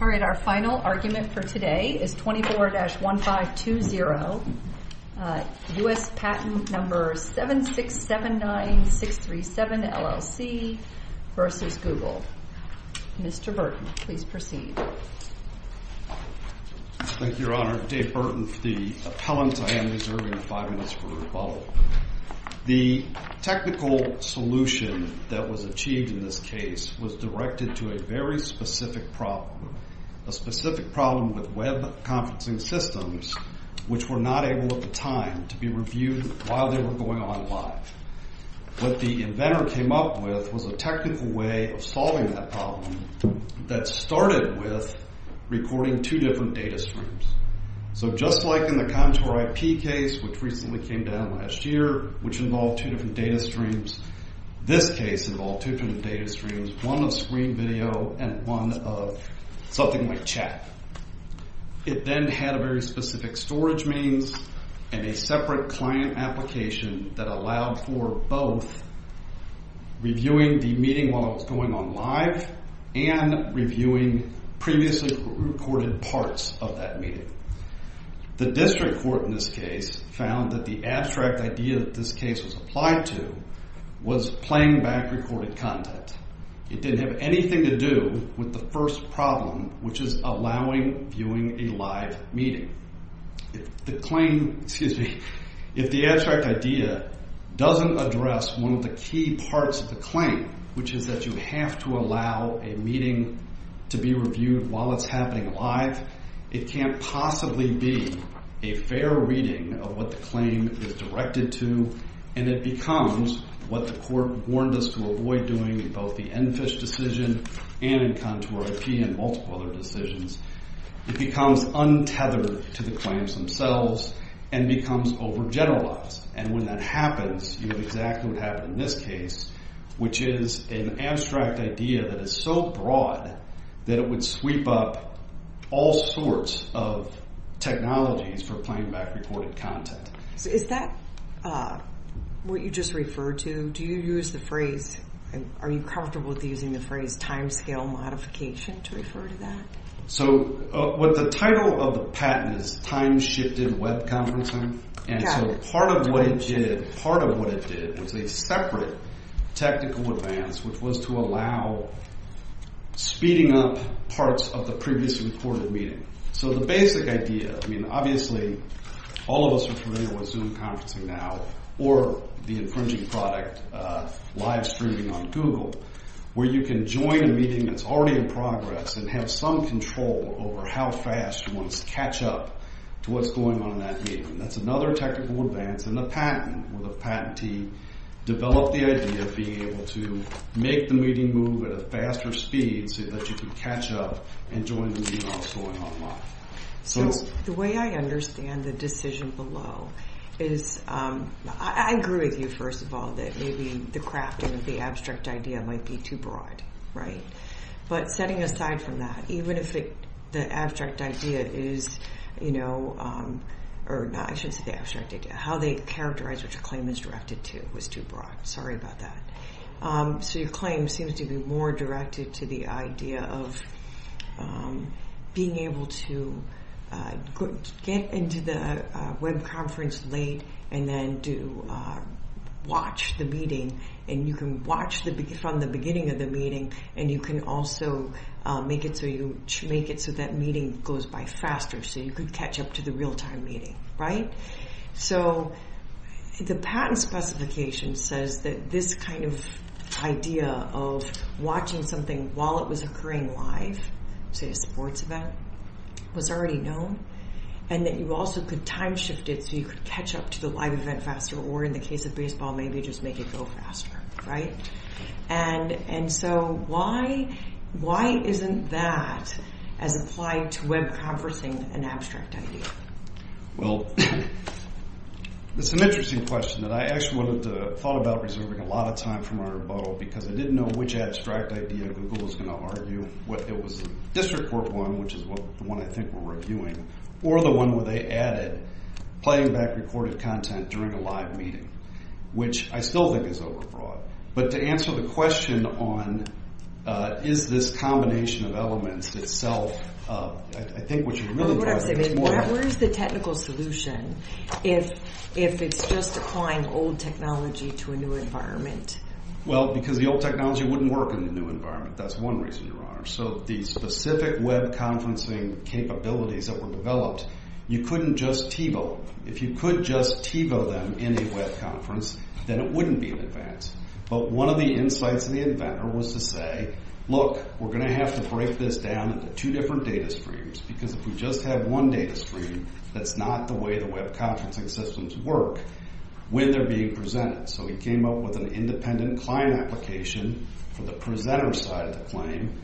All right, our final argument for today is 24-1520, U.S. Patent No. 7,679,637 LLC v. Google. Mr. Burton, please proceed. Thank you, Your Honor. I'm Dave Burton, the appellant. I am reserving five minutes for rebuttal. The technical solution that was achieved in this case was directed to a very specific problem, a specific problem with web conferencing systems, which were not able at the time to be reviewed while they were going online. What the inventor came up with was a technical way of solving that problem that started with recording two different data streams. So just like in the Contour IP case, which recently came down last year, which involved two different data streams, this case involved two different data streams, one of screen video and one of something like chat. It then had a very specific storage means and a separate client application that allowed for both reviewing the meeting while it was going online and reviewing previously recorded parts of that meeting. The district court in this case found that the abstract idea that this case was applied to was playing back recorded content. It didn't have anything to do with the first problem, which is allowing viewing a live meeting. The claim, excuse me, if the abstract idea doesn't address one of the key parts of the claim, which is that you have to allow a meeting to be reviewed while it's happening live, it can't possibly be a fair reading of what the claim is directed to, and it becomes what the court warned us to avoid doing in both the EnFish decision and in Contour IP and multiple other decisions. It becomes untethered to the claims themselves and becomes overgeneralized. And when that happens, you have exactly what happened in this case, which is an abstract idea that is so broad that it would sweep up all sorts of technologies for playing back recorded content. Is that what you just referred to? Are you comfortable with using the phrase timescale modification to refer to that? The title of the patent is time-shifted web conferencing, and so part of what it did was a separate technical advance, which was to allow speeding up parts of the previously recorded meeting. So the basic idea, I mean, obviously all of us are familiar with Zoom conferencing now or the infringing product live streaming on Google where you can join a meeting that's already in progress and have some control over how fast you want to catch up to what's going on in that meeting. That's another technical advance, and the patent, with a patentee, developed the idea of being able to make the meeting move at a faster speed so that you can catch up and join the meeting while it's going online. So the way I understand the decision below is I agree with you, first of all, that maybe the crafting of the abstract idea might be too broad, right? But setting aside from that, even if the abstract idea is, you know, or I should say the abstract idea, how they characterize what your claim is directed to was too broad. Sorry about that. So your claim seems to be more directed to the idea of being able to get into the web conference late and then to watch the meeting, and you can watch from the beginning of the meeting, and you can also make it so that meeting goes by faster so you could catch up to the real-time meeting, right? So the patent specification says that this kind of idea of watching something while it was occurring live, say a sports event, was already known, and that you also could time shift it so you could catch up to the live event faster, or in the case of baseball, maybe just make it go faster, right? And so why isn't that as applied to web conferencing an abstract idea? Well, it's an interesting question that I actually thought about reserving a lot of time for my rebuttal because I didn't know which abstract idea Google was going to argue, whether it was the district court one, which is the one I think we're reviewing, or the one where they added playing back recorded content during a live meeting, which I still think is overbroad. But to answer the question on is this combination of elements itself, I think what you're really talking about is more than that. Where is the technical solution if it's just applying old technology to a new environment? Well, because the old technology wouldn't work in the new environment. That's one reason, Your Honor. So the specific web conferencing capabilities that were developed, you couldn't just TiVo. If you could just TiVo them in a web conference, then it wouldn't be an advance. But one of the insights of the inventor was to say, Look, we're going to have to break this down into two different data streams because if we just have one data stream, that's not the way the web conferencing systems work when they're being presented. So he came up with an independent client application for the presenter side of the claim.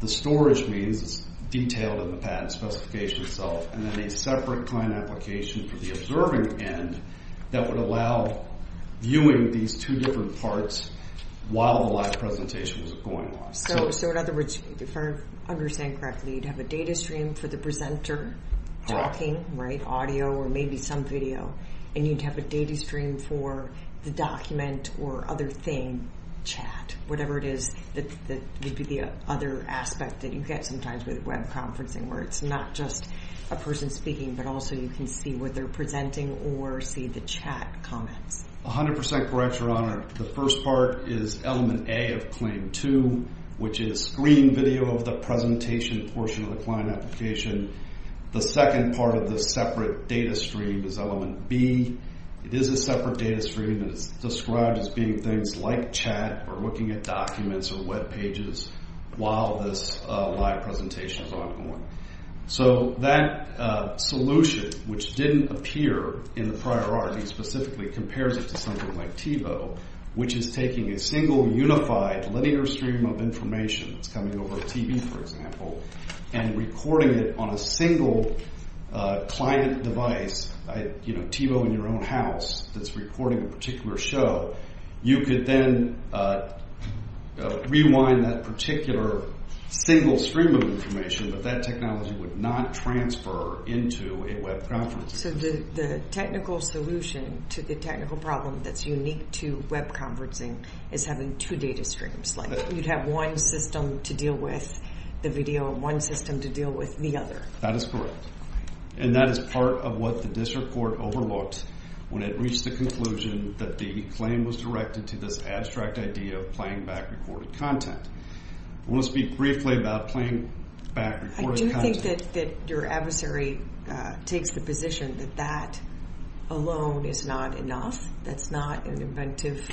The storage means it's detailed in the patent specification itself, and then a separate client application for the observing end that would allow viewing these two different parts while the live presentation was going on. So in other words, if I understand correctly, you'd have a data stream for the presenter talking, right, audio or maybe some video, and you'd have a data stream for the document or other thing, chat, whatever it is, that would be the other aspect that you get sometimes with web conferencing where it's not just a person speaking, but also you can see what they're presenting or see the chat comments. A hundred percent correct, Your Honor. The first part is element A of claim two, which is screen video of the presentation portion of the client application. The second part of the separate data stream is element B. It is a separate data stream, and it's described as being things like chat or looking at documents or web pages while this live presentation is ongoing. So that solution, which didn't appear in the prior art, he specifically compares it to something like TiVo, which is taking a single unified linear stream of information that's coming over TV, for example, and recording it on a single client device, you know, TiVo in your own house, that's recording a particular show. You could then rewind that particular single stream of information, but that technology would not transfer into a web conference. So the technical solution to the technical problem that's unique to web conferencing is having two data streams. Like you'd have one system to deal with the video and one system to deal with the other. That is correct. And that is part of what the district court overlooked when it reached the conclusion that the claim was directed to this abstract idea of playing back recorded content. I want to speak briefly about playing back recorded content. I do think that your adversary takes the position that that alone is not enough, that's not an inventive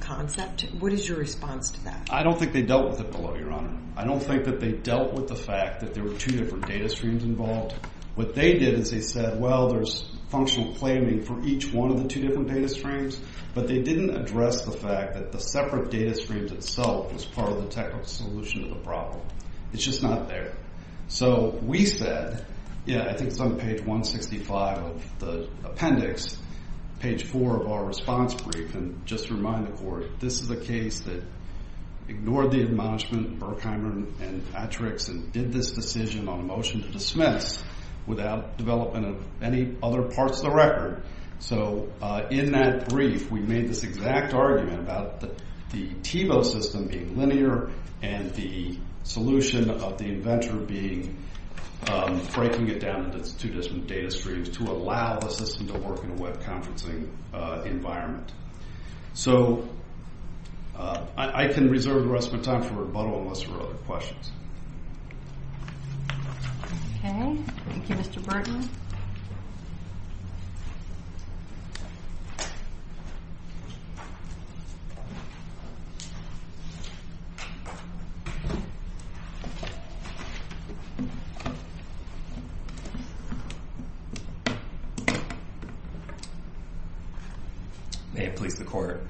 concept. What is your response to that? I don't think they dealt with it below, Your Honor. I don't think that they dealt with the fact that there were two different data streams involved. What they did is they said, well, there's functional claiming for each one of the two different data streams, but they didn't address the fact that the separate data streams itself was part of the technical solution to the problem. It's just not there. So we said, yeah, I think it's on page 165 of the appendix, page 4 of our response brief, and just to remind the court, this is a case that ignored the admonishment, and did this decision on a motion to dismiss without development of any other parts of the record. So in that brief, we made this exact argument about the TiVo system being linear and the solution of the inventor being breaking it down into two different data streams to allow the system to work in a web conferencing environment. So I can reserve the rest of my time for rebuttal unless there are other questions. Okay. Thank you, Mr. Burton. May it please the court.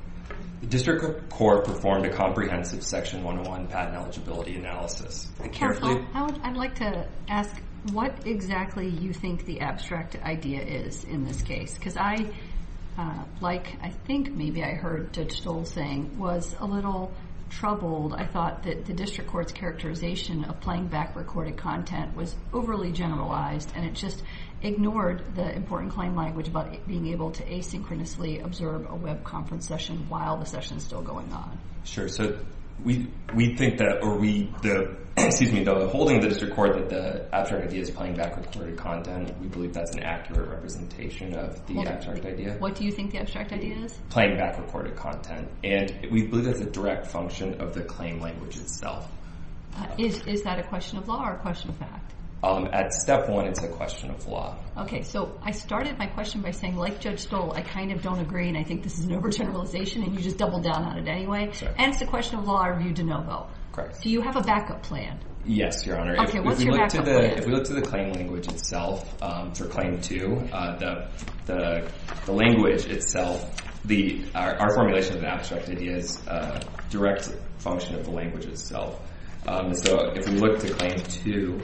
The district court performed a comprehensive Section 101 patent eligibility analysis. Counsel, I'd like to ask what exactly you think the abstract idea is in this case, because I, like I think maybe I heard Judge Stoll saying, was a little troubled. I thought that the district court's characterization of playing back recorded content was overly generalized, and it just ignored the important claim language about being able to asynchronously observe a web conference session while the session is still going on. Sure. So we think that, or we, the, excuse me, the holding of the district court that the abstract idea is playing back recorded content, we believe that's an accurate representation of the abstract idea. What do you think the abstract idea is? Playing back recorded content. And we believe that's a direct function of the claim language itself. Is that a question of law or a question of fact? At step one, it's a question of law. Okay. So I started my question by saying, like Judge Stoll, I kind of don't agree, and I think this is an overgeneralization, and you just doubled down on it anyway. And it's a question of law, or are you de novo? Correct. So you have a backup plan. Yes, Your Honor. Okay, what's your backup plan? If we look to the claim language itself, or claim two, the language itself, our formulation of the abstract idea is a direct function of the language itself. So if we look to claim two,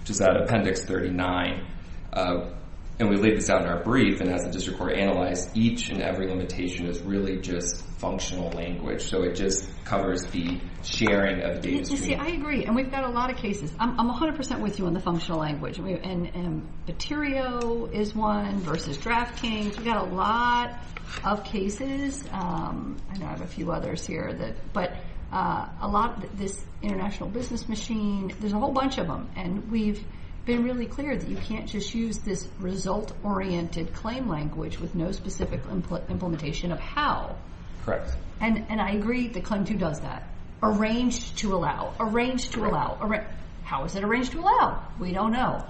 which is at Appendix 39, and we laid this out in our brief, and as the district court analyzed, each and every limitation is really just functional language. So it just covers the sharing of data streams. You see, I agree, and we've got a lot of cases. I'm 100% with you on the functional language. And Baterio is one versus DraftKings. We've got a lot of cases, and I have a few others here. But a lot of this international business machine, there's a whole bunch of them, and we've been really clear that you can't just use this result-oriented claim language with no specific implementation of how. And I agree that claim two does that. Arranged to allow. Arranged to allow. How is it arranged to allow? We don't know.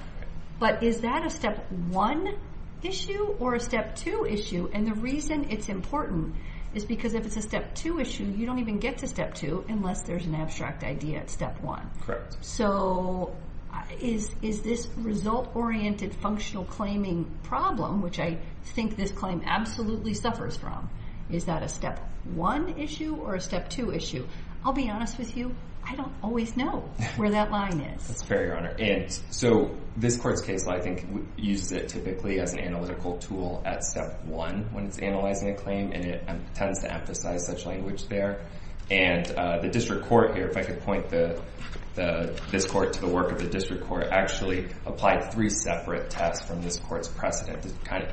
But is that a Step 1 issue or a Step 2 issue? And the reason it's important is because if it's a Step 2 issue, you don't even get to Step 2 unless there's an abstract idea at Step 1. So is this result-oriented functional claiming problem, which I think this claim absolutely suffers from, is that a Step 1 issue or a Step 2 issue? I'll be honest with you, I don't always know where that line is. That's fair, Your Honor. And so this court's case, I think, uses it typically as an analytical tool at Step 1 when it's analyzing a claim, and it tends to emphasize such language there. And the district court here, if I could point this court to the work of the district court, actually applied three separate tests from this court's precedent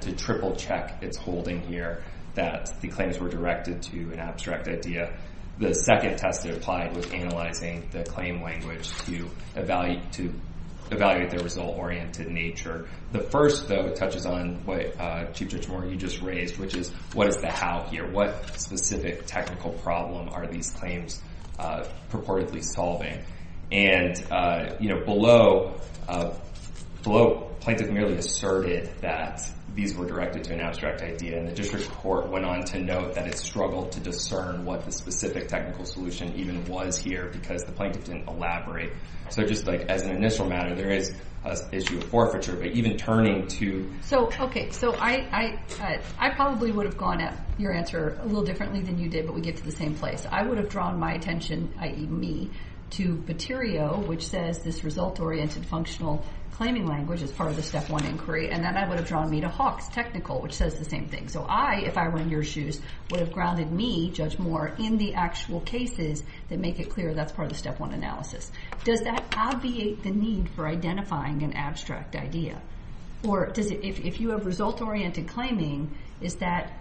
to triple-check its holding here that the claims were directed to an abstract idea. The second test they applied was analyzing the claim language to evaluate their result-oriented nature. The first, though, touches on what Chief Judge Moore, you just raised, which is what is the how here? What specific technical problem are these claims purportedly solving? And below, plaintiff merely asserted that these were directed to an abstract idea, and the district court went on to note that it struggled to discern what the specific technical solution even was here because the plaintiff didn't elaborate. So just as an initial matter, there is an issue of forfeiture, but even turning to— Okay, so I probably would have gone at your answer a little differently than you did, but we get to the same place. I would have drawn my attention, i.e. me, to Paterio, which says this result-oriented functional claiming language is part of the Step 1 inquiry, and then I would have drawn me to Hawks, Technical, which says the same thing. So I, if I were in your shoes, would have grounded me, Judge Moore, in the actual cases that make it clear that's part of the Step 1 analysis. Does that obviate the need for identifying an abstract idea? Or if you have result-oriented claiming, is that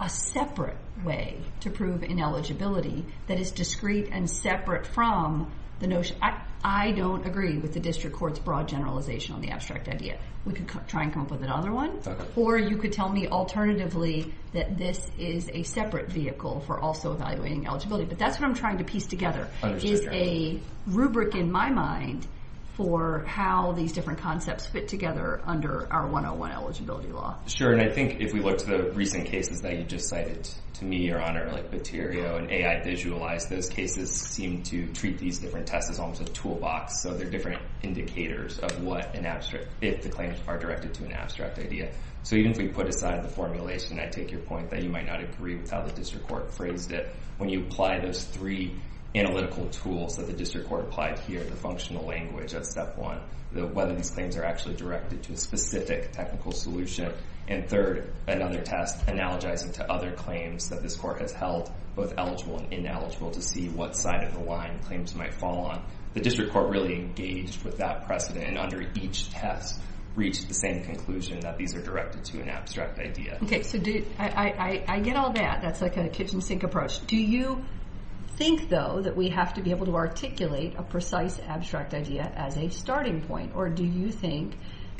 a separate way to prove ineligibility that is discrete and separate from the notion? I don't agree with the district court's broad generalization on the abstract idea. We could try and come up with another one. Or you could tell me alternatively that this is a separate vehicle for also evaluating eligibility, but that's what I'm trying to piece together is a rubric in my mind for how these different concepts fit together under our 101 eligibility law. Sure, and I think if we look to the recent cases that you just cited to me, Your Honor, like Baterio and AI Visualize, those cases seem to treat these different tests as almost a toolbox, so they're different indicators of what an abstract, if the claims are directed to an abstract idea. So even if we put aside the formulation, I take your point that you might not agree with how the district court phrased it. When you apply those three analytical tools that the district court applied here, the functional language of Step 1, whether these claims are actually directed to a specific technical solution, and third, another test analogizing to other claims that this court has held both eligible and ineligible to see what side of the line claims might fall on, the district court really engaged with that precedent and under each test reached the same conclusion that these are directed to an abstract idea. Okay, so I get all that. That's like a kitchen sink approach. Do you think, though, that we have to be able to articulate a precise abstract idea as a starting point, or do you think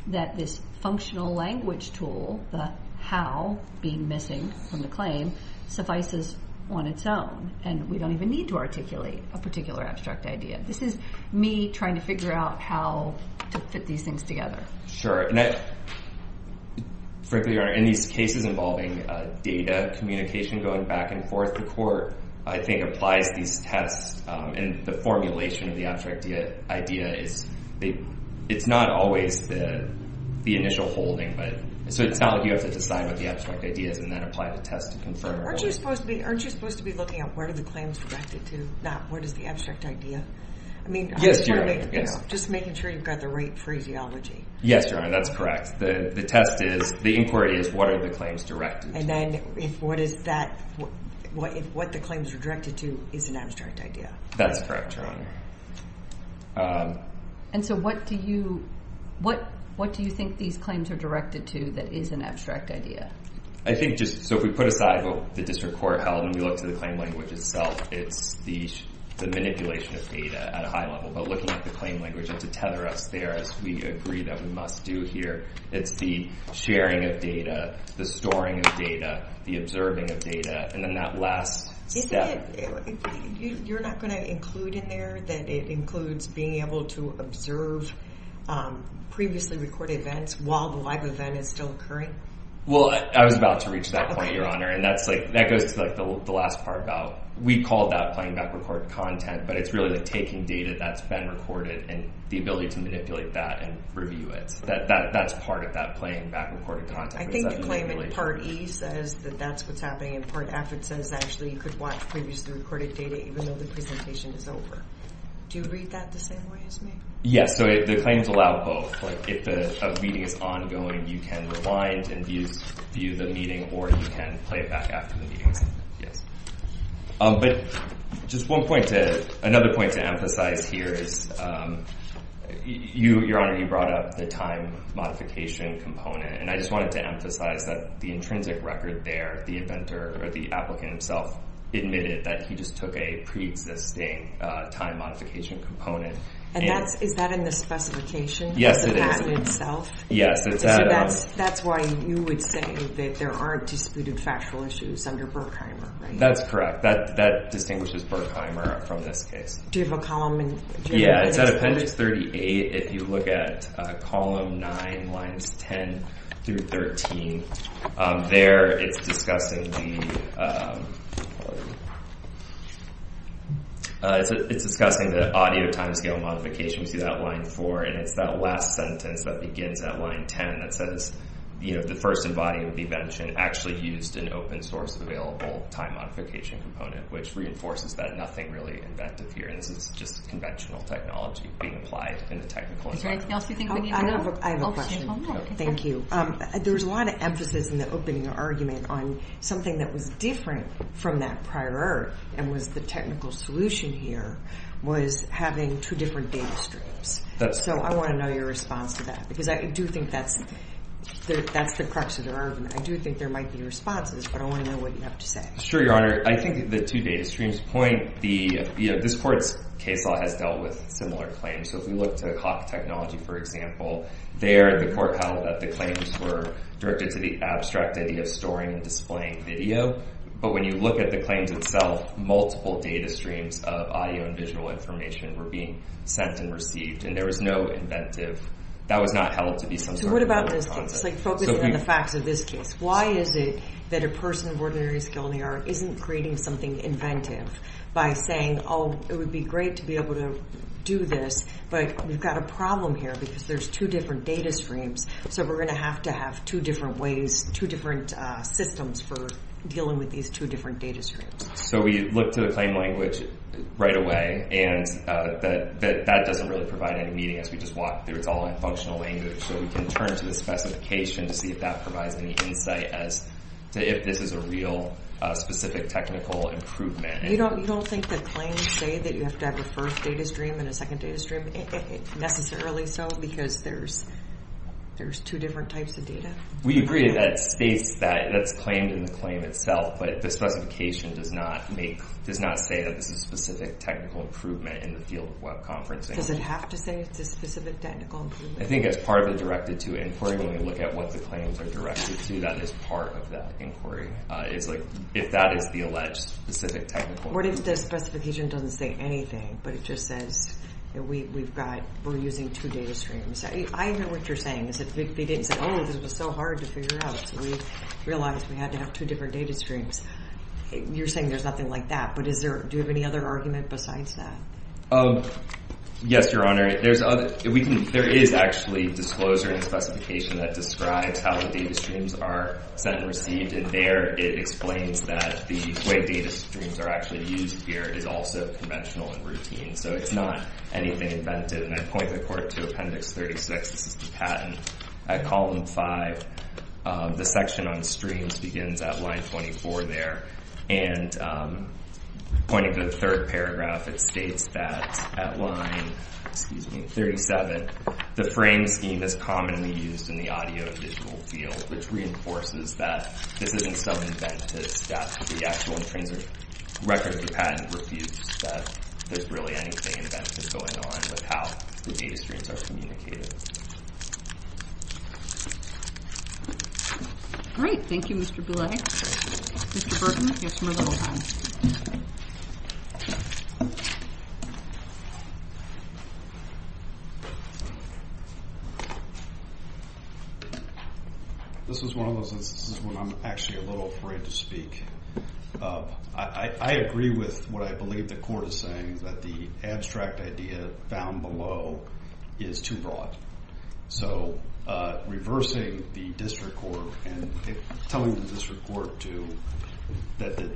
that this functional language tool, the how being missing from the claim, suffices on its own and we don't even need to articulate a particular abstract idea? This is me trying to figure out how to fit these things together. Sure, and frankly, Your Honor, in these cases involving data communication going back and forth, the court, I think, applies these tests and the formulation of the abstract idea is not always the initial holding. So it's not like you have to decide what the abstract idea is and then apply the test to confirm it. Aren't you supposed to be looking at where are the claims directed to, not where is the abstract idea? Yes, Your Honor. Just making sure you've got the right phraseology. Yes, Your Honor, that's correct. The test is, the inquiry is, what are the claims directed to? And then if what the claims are directed to is an abstract idea. That's correct, Your Honor. And so what do you think these claims are directed to that is an abstract idea? I think just, so if we put aside what the district court held and we look to the claim language itself, it's the manipulation of data at a high level. But looking at the claim language, it's a tether us there as we agree that we must do here. It's the sharing of data, the storing of data, the observing of data. And then that last step. You're not going to include in there that it includes being able to observe previously recorded events while the live event is still occurring? Well, I was about to reach that point, Your Honor. And that's like, that goes to like the last part about, we call that playing back record content. But it's really like taking data that's been recorded and the ability to manipulate that and review it. That's part of that playing back recorded content. I think the claim in Part E says that that's what's happening in Part F. It says actually you could watch previously recorded data even though the presentation is over. Do you read that the same way as me? Yes. So the claims allow both. Like if a meeting is ongoing, you can rewind and view the meeting or you can play it back after the meeting. But just one point to, another point to emphasize here is, Your Honor, you brought up the time modification component. And I just wanted to emphasize that the intrinsic record there, the inventor or the applicant himself admitted that he just took a preexisting time modification component. And that's, is that in the specification? Yes, it is. Is it that in itself? Yes, it's that. That's why you would say that there aren't disputed factual issues under Berkheimer, right? That's correct. That distinguishes Berkheimer from this case. Do you have a column? Yeah, it's at Appendix 38. If you look at Column 9, Lines 10 through 13, there it's discussing the audio timescale modification. And it's that last sentence that begins at Line 10 that says, you know, the first in body of the invention actually used an open source available time modification component, which reinforces that nothing really inventive here. And this is just conventional technology being applied in the technical environment. Is there anything else you think we need to know? I have a question. Thank you. There was a lot of emphasis in the opening argument on something that was different from that prior, and was the technical solution here, was having two different data streams. So I want to know your response to that, because I do think that's the crux of the argument. I do think there might be responses, but I want to know what you have to say. It's true, Your Honor. I think the two data streams point the, you know, this court's case law has dealt with similar claims. So if we look to clock technology, for example, there the court held that the claims were directed to the abstract idea of storing and displaying video. But when you look at the claims itself, multiple data streams of audio and visual information were being sent and received. And there was no inventive. That was not held to be some sort of real concept. So what about this case? It's like focusing on the facts of this case. Why is it that a person of ordinary skill in the art isn't creating something inventive by saying, oh, it would be great to be able to do this, but we've got a problem here because there's two different data streams. So we're going to have to have two different ways, two different systems for dealing with these two different data streams. So we look to the claim language right away, and that doesn't really provide any meaning. It's all in functional language. So we can turn to the specification to see if that provides any insight as to if this is a real specific technical improvement. You don't think that claims say that you have to have a first data stream and a second data stream necessarily so because there's two different types of data? We agree that states that that's claimed in the claim itself, but the specification does not make, does not say that this is specific technical improvement in the field of web conferencing. Does it have to say it's a specific technical improvement? I think as part of the directed to inquiry, when we look at what the claims are directed to, that is part of that inquiry. It's like if that is the alleged specific technical improvement. What if the specification doesn't say anything, but it just says we're using two data streams? I know what you're saying is that they didn't say, oh, this was so hard to figure out, so we realized we had to have two different data streams. You're saying there's nothing like that, but do you have any other argument besides that? Yes, Your Honor. There is actually disclosure in the specification that describes how the data streams are sent and received, and there it explains that the way data streams are actually used here is also conventional and routine, so it's not anything invented. And I point the court to Appendix 36. This is the patent. At column 5, the section on streams begins at line 24 there, and pointing to the third paragraph, it states that at line 37, the frame scheme is commonly used in the audio and visual field, which reinforces that this isn't some inventive step. The actual intrinsic record of the patent refutes that there's really anything inventive going on with how the data streams are communicated. Great. Thank you, Mr. Boulay. Mr. Burton, you have some rebuttal time. This is one of those instances when I'm actually a little afraid to speak. I agree with what I believe the court is saying, that the abstract idea found below is too broad. So reversing the district court and telling the district court that the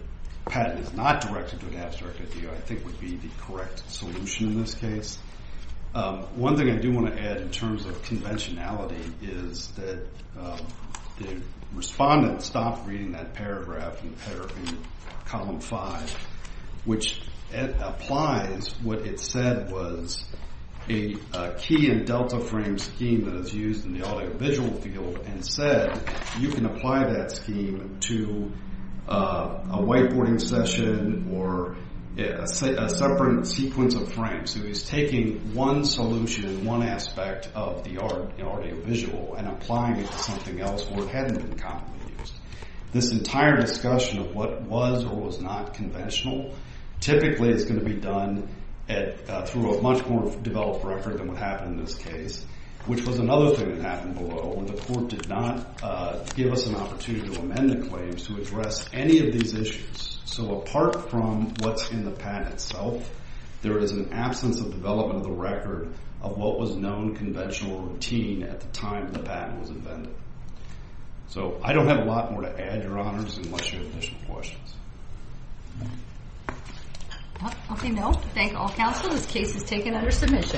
patent is not directed to an abstract idea I think would be the correct solution in this case. One thing I do want to add in terms of conventionality is that the respondent stopped reading that paragraph in column 5, which applies what it said was a key and delta frame scheme that is used in the audio-visual field, and said you can apply that scheme to a whiteboarding session or a separate sequence of frames. So he's taking one solution, one aspect of the audio-visual and applying it to something else where it hadn't been commonly used. This entire discussion of what was or was not conventional typically is going to be done through a much more developed record than what happened in this case, which was another thing that happened below where the court did not give us an opportunity to amend the claims to address any of these issues. So apart from what's in the patent itself, there is an absence of development of the record of what was known conventional routine at the time the patent was invented. So I don't have a lot more to add, Your Honors, unless you have additional questions. Okay, no. Thank all counsel. This case is taken under submission.